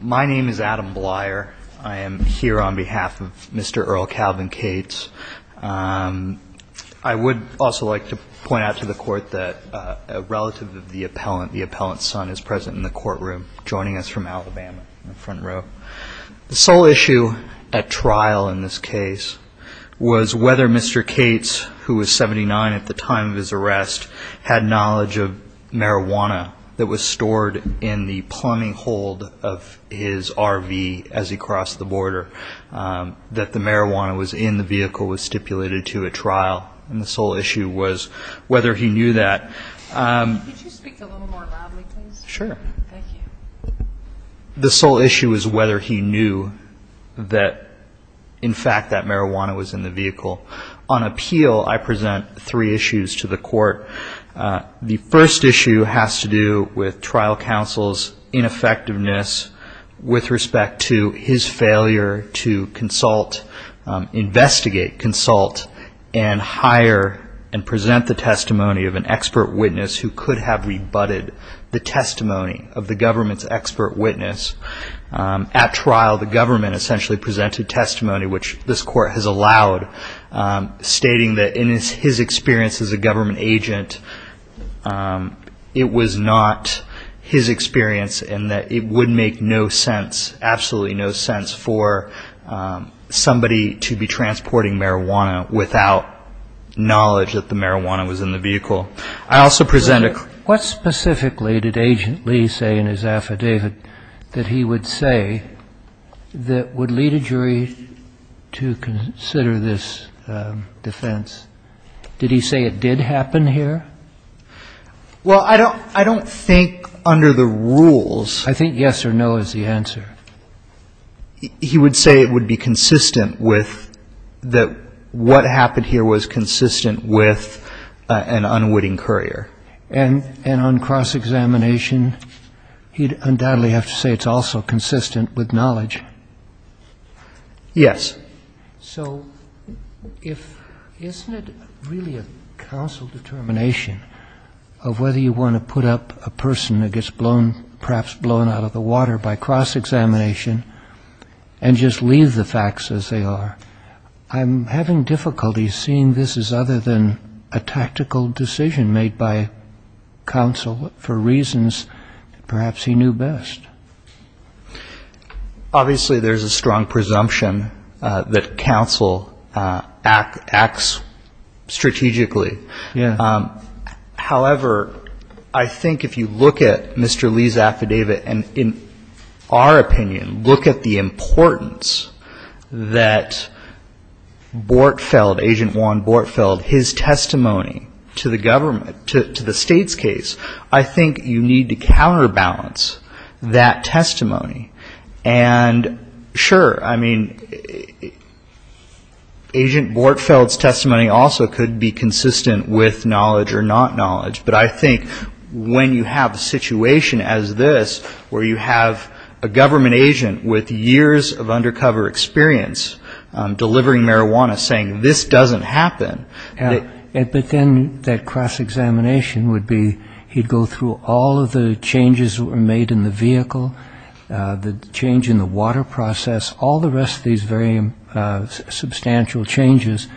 My name is Adam Bleier. I am here on behalf of Mr. Earl Calvin Cates. I would also like to point out to the court that a relative of the appellant, the appellant's son, is present in the courtroom, joining us from Alabama in the front row. The sole issue at trial in this case was whether Mr. Cates, who was 79 at the time of his arrest, had knowledge of marijuana that was stored in the plumbing hold of his RV as he crossed the border, that the marijuana was in the vehicle was stipulated to at trial. And the sole issue was whether he knew that. Could you speak a little more loudly please? Sure. Thank you. The sole issue was whether he knew that, in fact, that marijuana was in the vehicle. On appeal, I present three issues to the court. The first issue has to do with trial counsel's ineffectiveness with respect to his failure to consult, investigate, consult, and hire and present the testimony of an expert witness who could have rebutted the testimony of the government's expert witness. At trial, the government essentially presented testimony, which this court has allowed, stating that in his experience as a government agent, it was not his experience and that it would make no sense, absolutely no sense, for somebody to be transporting marijuana without knowledge that the marijuana was in the vehicle. I also present a... What specifically did Agent Lee say in his affidavit that he would say that would lead a jury to consider this defense? Did he say it did happen here? Well, I don't think under the rules... I think yes or no is the answer. He would say it would be consistent with that what happened here was consistent with an unwitting courier. And on cross-examination, he'd undoubtedly have to say it's also consistent with knowledge. Yes. So isn't it really a counsel determination of whether you want to put up a person that gets blown, perhaps blown out of the water by cross-examination and just leave the facts as they are? I'm having difficulty seeing this as other than a tactical decision made by counsel for reasons perhaps he knew best. Obviously, there's a strong presumption that counsel acts strategically. However, I think if you look at Mr. Lee's affidavit and, in our opinion, look at the importance that Bortfeld, Agent Juan Bortfeld, his testimony to the government, to the state's case, I think you need to counterbalance that testimony. And, sure, I mean, Agent Bortfeld's testimony also could be consistent with knowledge or not knowledge. But I think when you have a situation as this where you have a government agent with years of undercover experience delivering marijuana saying this doesn't happen... He'd go through all of the changes that were made in the vehicle, the change in the water process, all the rest of these very substantial changes.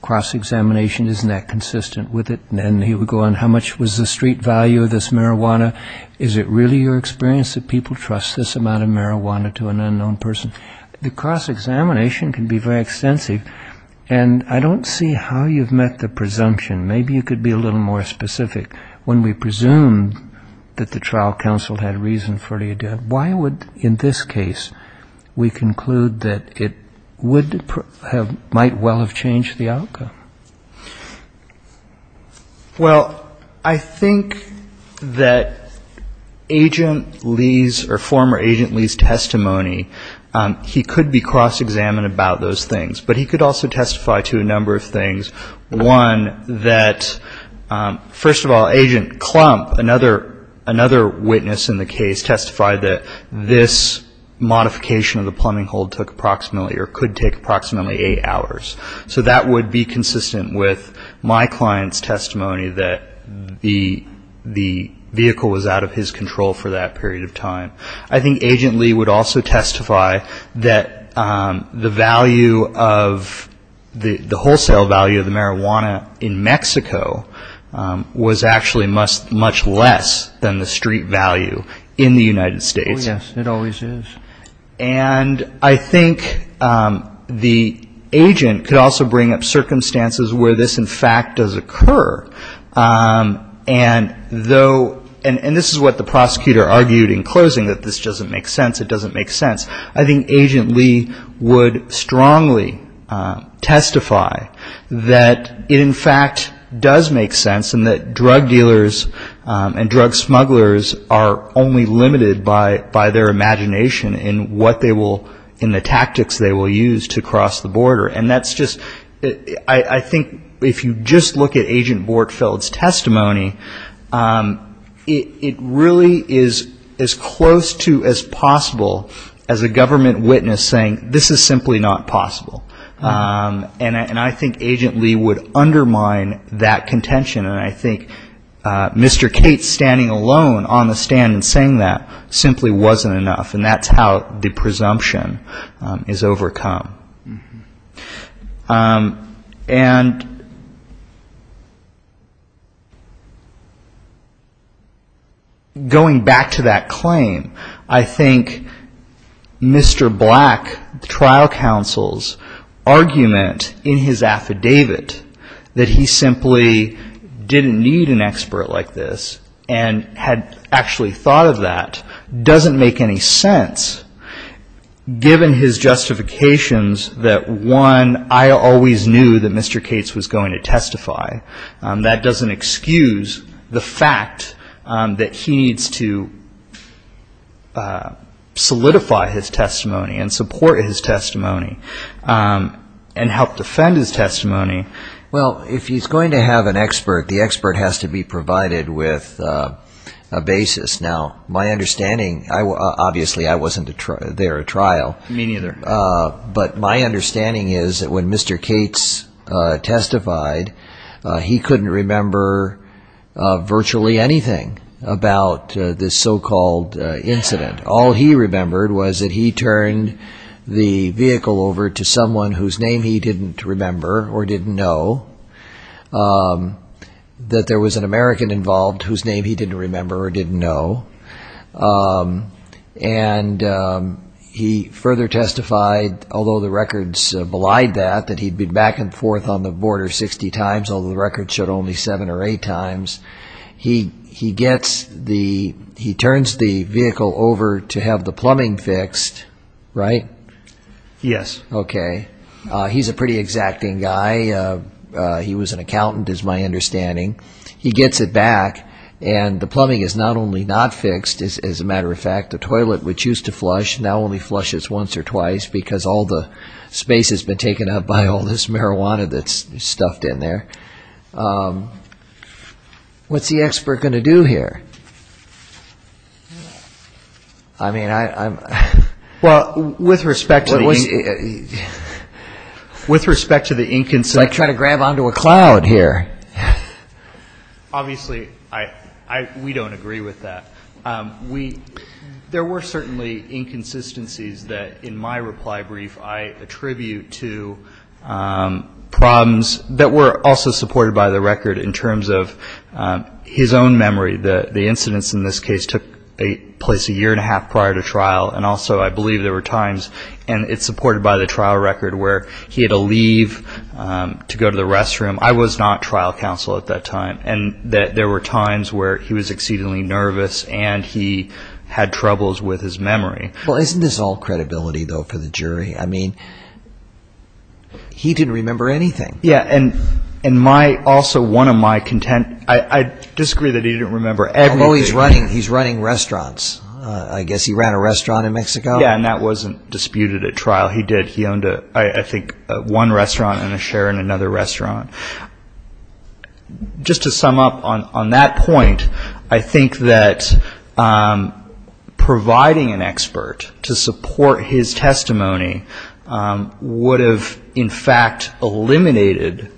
Cross-examination, isn't that consistent with it? And then he would go on, how much was the street value of this marijuana? Is it really your experience that people trust this amount of marijuana to an unknown person? The cross-examination can be very extensive. And I don't see how you've met the presumption. Maybe you could be a little more specific. When we presumed that the trial counsel had reason for it, why would, in this case, we conclude that it might well have changed the outcome? Well, I think that Agent Lee's or former Agent Lee's testimony, he could be cross-examined about those things. But he could also testify to a number of things. One, that, first of all, Agent Klump, another witness in the case, testified that this modification of the plumbing hold took approximately or could take approximately eight hours. So that would be consistent with my client's testimony that the vehicle was out of his control for that period of time. I think Agent Lee would also testify that the value of the wholesale value of the marijuana in Mexico was actually much less than the street value in the United States. Oh, yes. It always is. And I think the agent could also bring up circumstances where this, in fact, does occur. And this is what the prosecutor argued in closing, that this doesn't make sense. It doesn't make sense. I think Agent Lee would strongly testify that it, in fact, does make sense and that drug dealers and drug smugglers are only limited by their imagination in the tactics they will use to cross the border. And that's just, I think if you just look at Agent Bortfeld's testimony, it really is as close to as possible as a government witness saying this is simply not possible. And I think Agent Lee would undermine that contention. And I think Mr. Kate standing alone on the stand and saying that simply wasn't enough. And that's how the presumption is overcome. And going back to that claim, I think Mr. Black, the trial counsel's argument in his affidavit that he simply didn't need an expert like this and had actually thought of that doesn't make any sense. Given his justifications that one, I always knew that Mr. Cates was going to testify, that doesn't excuse the fact that he needs to solidify his testimony and support his testimony and help defend his testimony. Well, if he's going to have an expert, the expert has to be provided with a basis. Now, my understanding, obviously I wasn't there at trial. Me neither. But my understanding is that when Mr. Cates testified, he couldn't remember virtually anything about this so-called incident. All he remembered was that he turned the vehicle over to someone whose name he didn't remember or didn't know, that there was an American involved whose name he didn't remember or didn't know. And he further testified, although the records belied that, that he'd been back and forth on the border 60 times, although the records showed only 7 or 8 times. He turns the vehicle over to have the plumbing fixed, right? Yes. Okay. He's a pretty exacting guy. He was an accountant is my understanding. He gets it back and the plumbing is not only not fixed, as a matter of fact, the toilet which used to flush now only flushes once or twice because all the space has been taken up by all this marijuana that's stuffed in there. What's the expert going to do here? I mean, I'm... Well, with respect to the... With respect to the inconsistency... It's like trying to grab onto a cloud here. Obviously, we don't agree with that. There were certainly inconsistencies that in my reply brief I attribute to problems that were also supported by the record in terms of his own memory, that the incidents in this case took place a year and a half prior to trial, and also I believe there were times, and it's supported by the trial record, where he had to leave to go to the restroom. I was not trial counsel at that time, and there were times where he was exceedingly nervous and he had troubles with his memory. Well, isn't this all credibility, though, for the jury? I mean, he didn't remember anything. Yeah, and my... Also, one of my content... I disagree that he didn't remember everything. Although he's running restaurants. I guess he ran a restaurant in Mexico. Yeah, and that wasn't disputed at trial. He did. He owned, I think, one restaurant and a share in another restaurant. Just to sum up on that point, I think that providing an expert to support his testimony would have, in fact, eliminated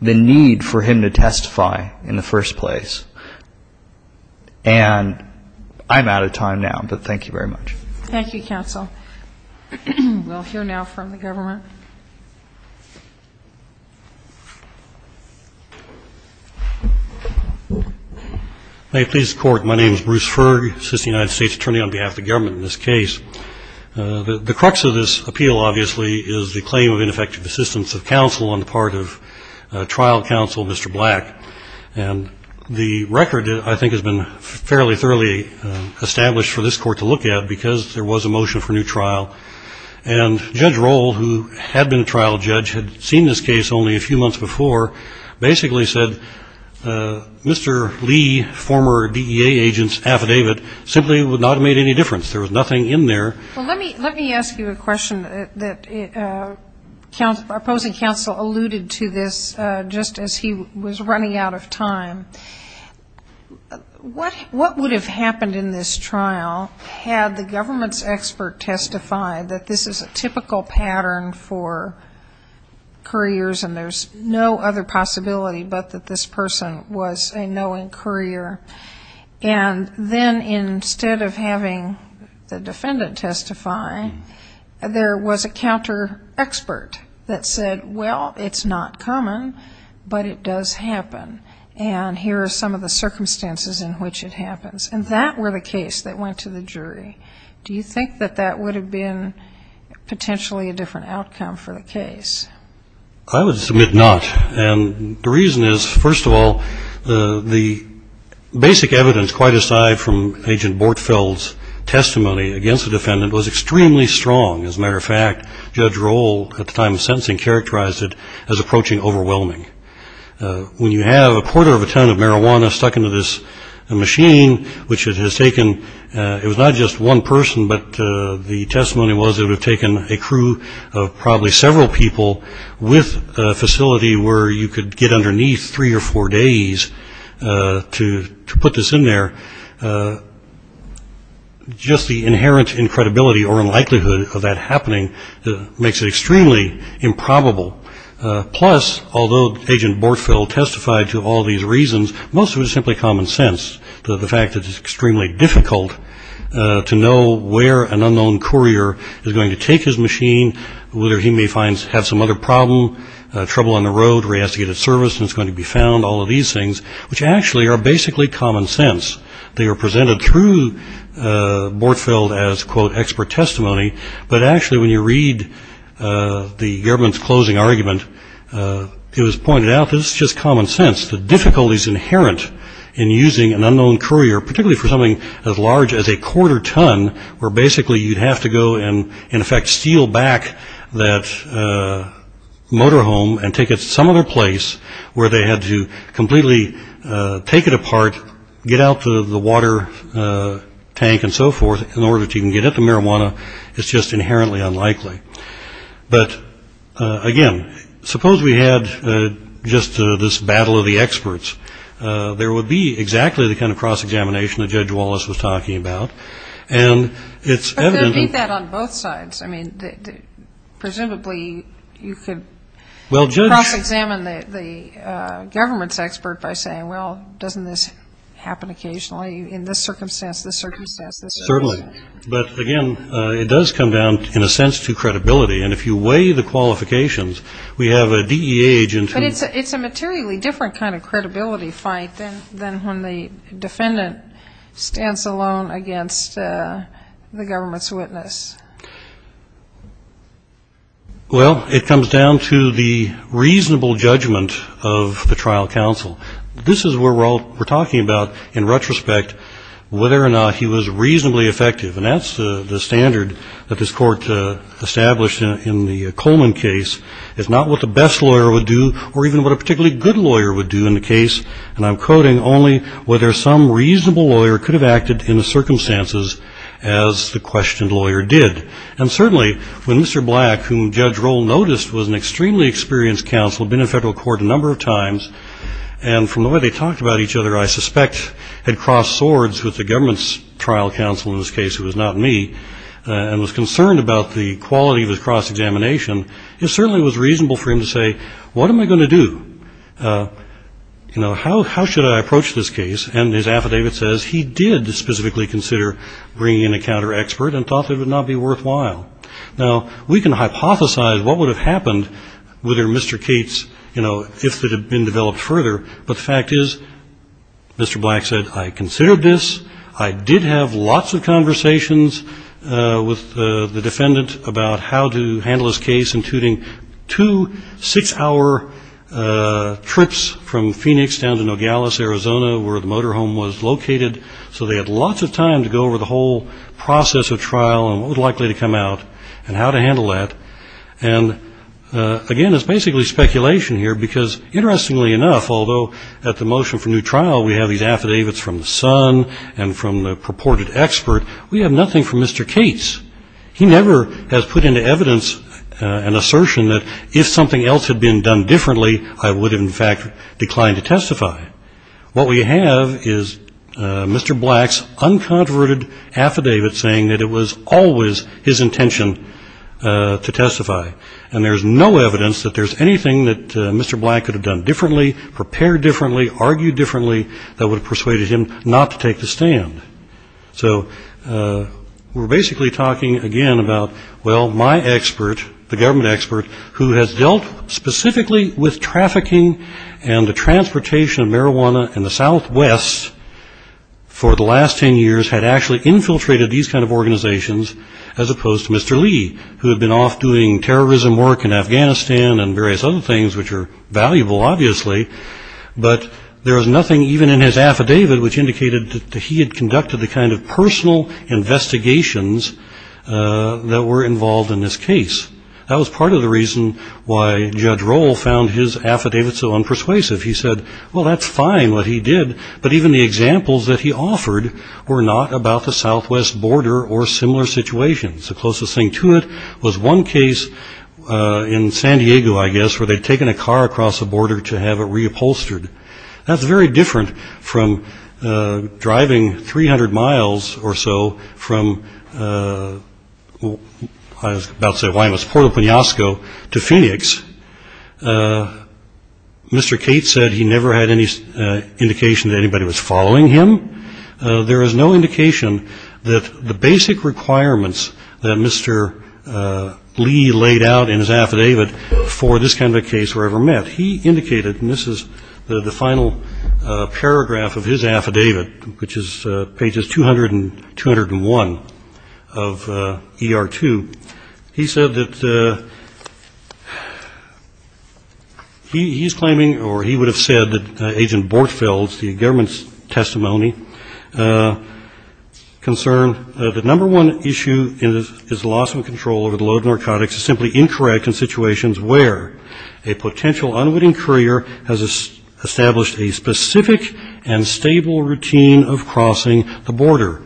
the need for him to testify in the first place, and I'm out of time now, but thank you very much. Thank you, counsel. We'll hear now from the government. May it please the Court, my name is Bruce Ferg, assistant United States attorney on behalf of the government in this case. The crux of this appeal, obviously, is the claim of ineffective assistance of counsel on the part of trial counsel, Mr. Black, and the record, I think, has been fairly thoroughly established for this Court to look at because there was a motion for new trial, and Judge Roll, who had been a trial judge, had seen this case only a few months before, basically said Mr. Lee, former DEA agent's affidavit, simply would not have made any difference. There was nothing in there. Well, let me ask you a question that opposing counsel alluded to this just as he was running out of time. What would have happened in this trial had the government's expert testified that this is a typical pattern for couriers, and there's no other possibility but that this person was a knowing courier? And then instead of having the defendant testify, there was a counter-expert that said, well, it's not common, but it does happen. And here are some of the circumstances in which it happens. And that were the case that went to the jury. Do you think that that would have been potentially a different outcome for the case? I would submit not. And the reason is, first of all, the basic evidence, quite aside from Agent Bortfeld's testimony against the defendant, that if a courier of a ton of marijuana stuck into this machine, which it has taken, it was not just one person, but the testimony was it would have taken a crew of probably several people with a facility where you could get underneath three or four days to put this in there. Just the inherent incredibility or unlikelihood of that happening makes it extremely improbable. Plus, although Agent Bortfeld testified to all these reasons, most of it is simply common sense, the fact that it's extremely difficult to know where an unknown courier is going to take his machine, whether he may have some other problem, trouble on the road where he has to get his service and it's going to be found, all of these things, which actually are basically common sense. They are presented through Bortfeld as, quote, expert testimony. But actually, when you read the government's closing argument, it was pointed out this is just common sense. The difficulties inherent in using an unknown courier, particularly for something as large as a quarter ton, where basically you'd have to go and, in effect, steal back that motorhome and take it some other place where they had to completely take it apart, get out the water tank and so forth in order to even get at the marijuana, it's just inherently unlikely. But, again, suppose we had just this battle of the experts. There would be exactly the kind of cross-examination that Judge Wallace was talking about. And it's evident. But there would be that on both sides. I mean, presumably you could cross-examine the government's expert by saying, well, doesn't this happen occasionally? In this circumstance, this circumstance, this circumstance. Well, it comes down to the reasonable judgment of the trial counsel. This is what we're talking about in retrospect, whether or not he was reasonably effective. And that's the standard that this Court established in the Coleman case. It's not what the best lawyer would do or even what a particularly good lawyer would do in the case. And I'm quoting only whether some reasonable lawyer could have acted in the circumstances as the questioned lawyer did. And certainly when Mr. Black, whom Judge Roll noticed was an extremely experienced counsel, had been in federal court a number of times, and from the way they talked about each other, I suspect had crossed swords with the government's trial counsel in this case, who was not me, and was concerned about the quality of his cross-examination, it certainly was reasonable for him to say, what am I going to do? You know, how should I approach this case? And his affidavit says he did specifically consider bringing in a counter-expert and thought it would not be worthwhile. Now, we can hypothesize what would have happened whether Mr. Cates, you know, if it had been developed further, but the fact is Mr. Black said, I considered this, I did have lots of conversations with the defendant about how to handle this case, including two six-hour trips from Phoenix down to Nogales, Arizona, where the motorhome was located, so they had lots of time to go over the whole process of trial and what was likely to come out and how to handle that. And again, it's basically speculation here, because interestingly enough, although at the motion for new trial, we have these affidavits from the son and from the purported expert, we have nothing from Mr. Cates. He never has put into evidence an assertion that if something else had been done differently, I would in fact decline to testify. What we have is Mr. Black's unconverted affidavit saying that it was always his intention to testify, and there's no evidence that there's anything that Mr. Black could have done differently, prepared differently, argued differently, that would have persuaded him not to take the stand. So we're basically talking again about, well, my expert, the government expert, who has dealt specifically with trafficking and the transportation of marijuana in the Southwest for the last 10 years, had actually infiltrated these kind of organizations, as opposed to Mr. Lee, who had been off doing terrorism work in Afghanistan and various other things, which are valuable, obviously, but there was nothing even in his affidavit which indicated that he had conducted the kind of personal investigations that were involved in this case. That was part of the reason why Judge Roll found his affidavit so unpersuasive. He said, well, that's fine what he did, but even the examples that he offered were not about the Southwest border or similar situations. The closest thing to it was one case in San Diego, I guess, where they'd taken a car across the border to have it reupholstered. That's very different from driving 300 miles or so from, I was about to say Wyoming, it was Puerto Penasco to Phoenix. Mr. Cates said he never had any indication that anybody was following him. There is no indication that the basic requirements that Mr. Lee laid out in his affidavit for this kind of a case were ever met. He indicated, and this is the final paragraph of his affidavit, which is pages 200 and 201 of ER2, he said that he's claiming or he would have said that Agent Bortfeld's, the government's testimony, concerned that the number one issue is loss of control over the load of narcotics is simply incorrect in situations where a potential unwitting courier has established a specific and stable routine of crossing the border.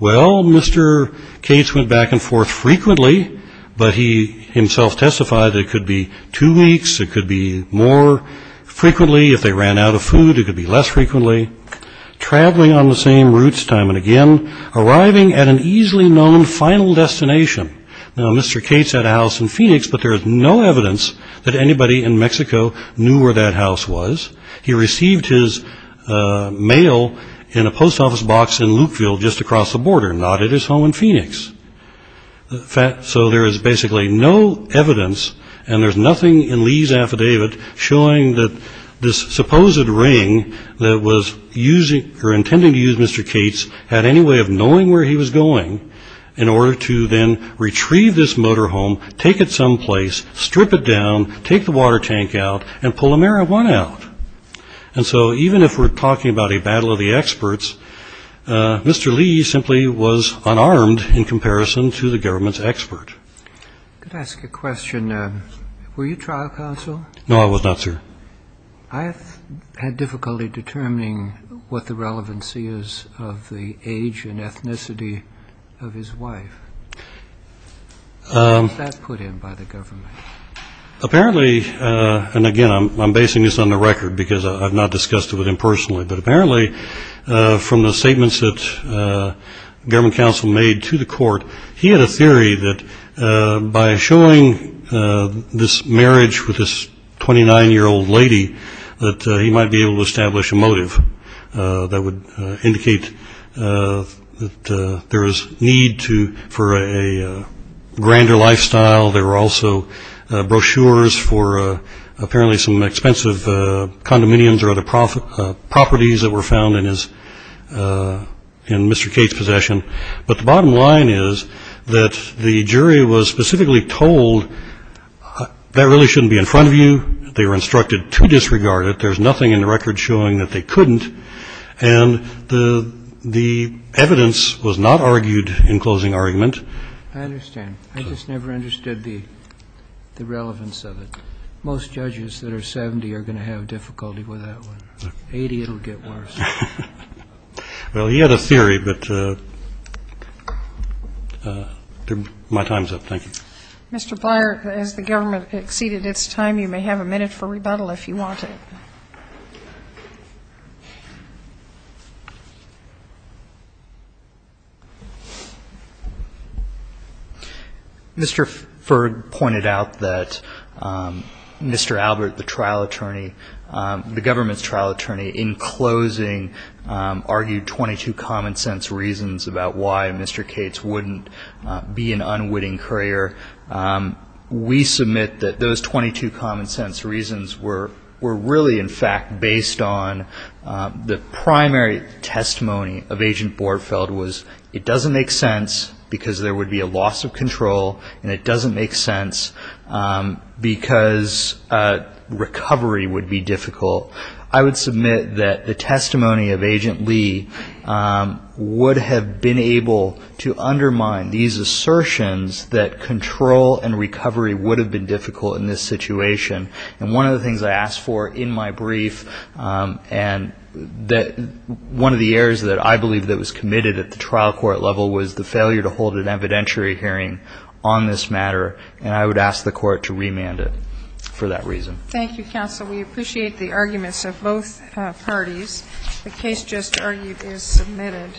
Well, Mr. Cates went back and forth frequently, but he himself testified that it could be two weeks, it could be more frequently, if they ran out of food, it could be less frequently. Traveling on the same routes time and again, arriving at an easily known final destination. Now, Mr. Cates had a house in Phoenix, but there is no evidence that anybody in Mexico knew where that house was. He received his mail in a post office box in Lukeville just across the border, not at his home in Phoenix. So there is basically no evidence and there's nothing in Lee's affidavit showing that this supposed ring that was intended to use Mr. Cates had any way of knowing where he was going in order to then retrieve this motorhome, take it someplace, strip it down, take the water tank out, and pull a marijuana out. And so even if we're talking about a battle of the experts, Mr. Lee simply was unarmed in comparison to the government's expert. Could I ask a question? Were you trial counsel? No, I was not, sir. Apparently, and again, I'm basing this on the record because I've not discussed it with him personally, but apparently from the statements that the government counsel made to the court, he had a theory that by showing this marriage with this 29-year-old lady that he might be able to establish a motive that would indicate that there was need for a grander lifestyle. There were also brochures for apparently some expensive condominiums or other properties that were found in Mr. Cates' possession. But the bottom line is that the jury was specifically told that really shouldn't be in front of you, they were instructed to disregard it, there's nothing in the record showing that they couldn't, and the evidence was not argued in closing argument. I understand. I just never understood the relevance of it. Most judges that are 70 are going to have difficulty with that one. 80, it'll get worse. Well, he had a theory, but my time's up. Thank you. Mr. Byer, as the government exceeded its time, you may have a minute for rebuttal if you want it. Mr. Ferg pointed out that Mr. Albert, the trial attorney, the government's trial attorney, in closing argued 22 common-sense reasons about why Mr. Cates wouldn't be an unwitting courier. We submit that those 22 common-sense reasons were really, in fact, based on the primary testimony of Agent Bordfeld was it doesn't make sense, because there would be a loss of control, and it doesn't make sense, because recovery would be difficult. I would submit that the testimony of Agent Lee would have been able to undermine these assertions that contradict the evidence. I would submit that control and recovery would have been difficult in this situation, and one of the things I asked for in my brief, and one of the errors that I believe that was committed at the trial court level was the failure to hold an evidentiary hearing on this matter, and I would ask the court to remand it for that reason. Thank you, counsel. We appreciate the arguments of both parties. The case just argued is submitted.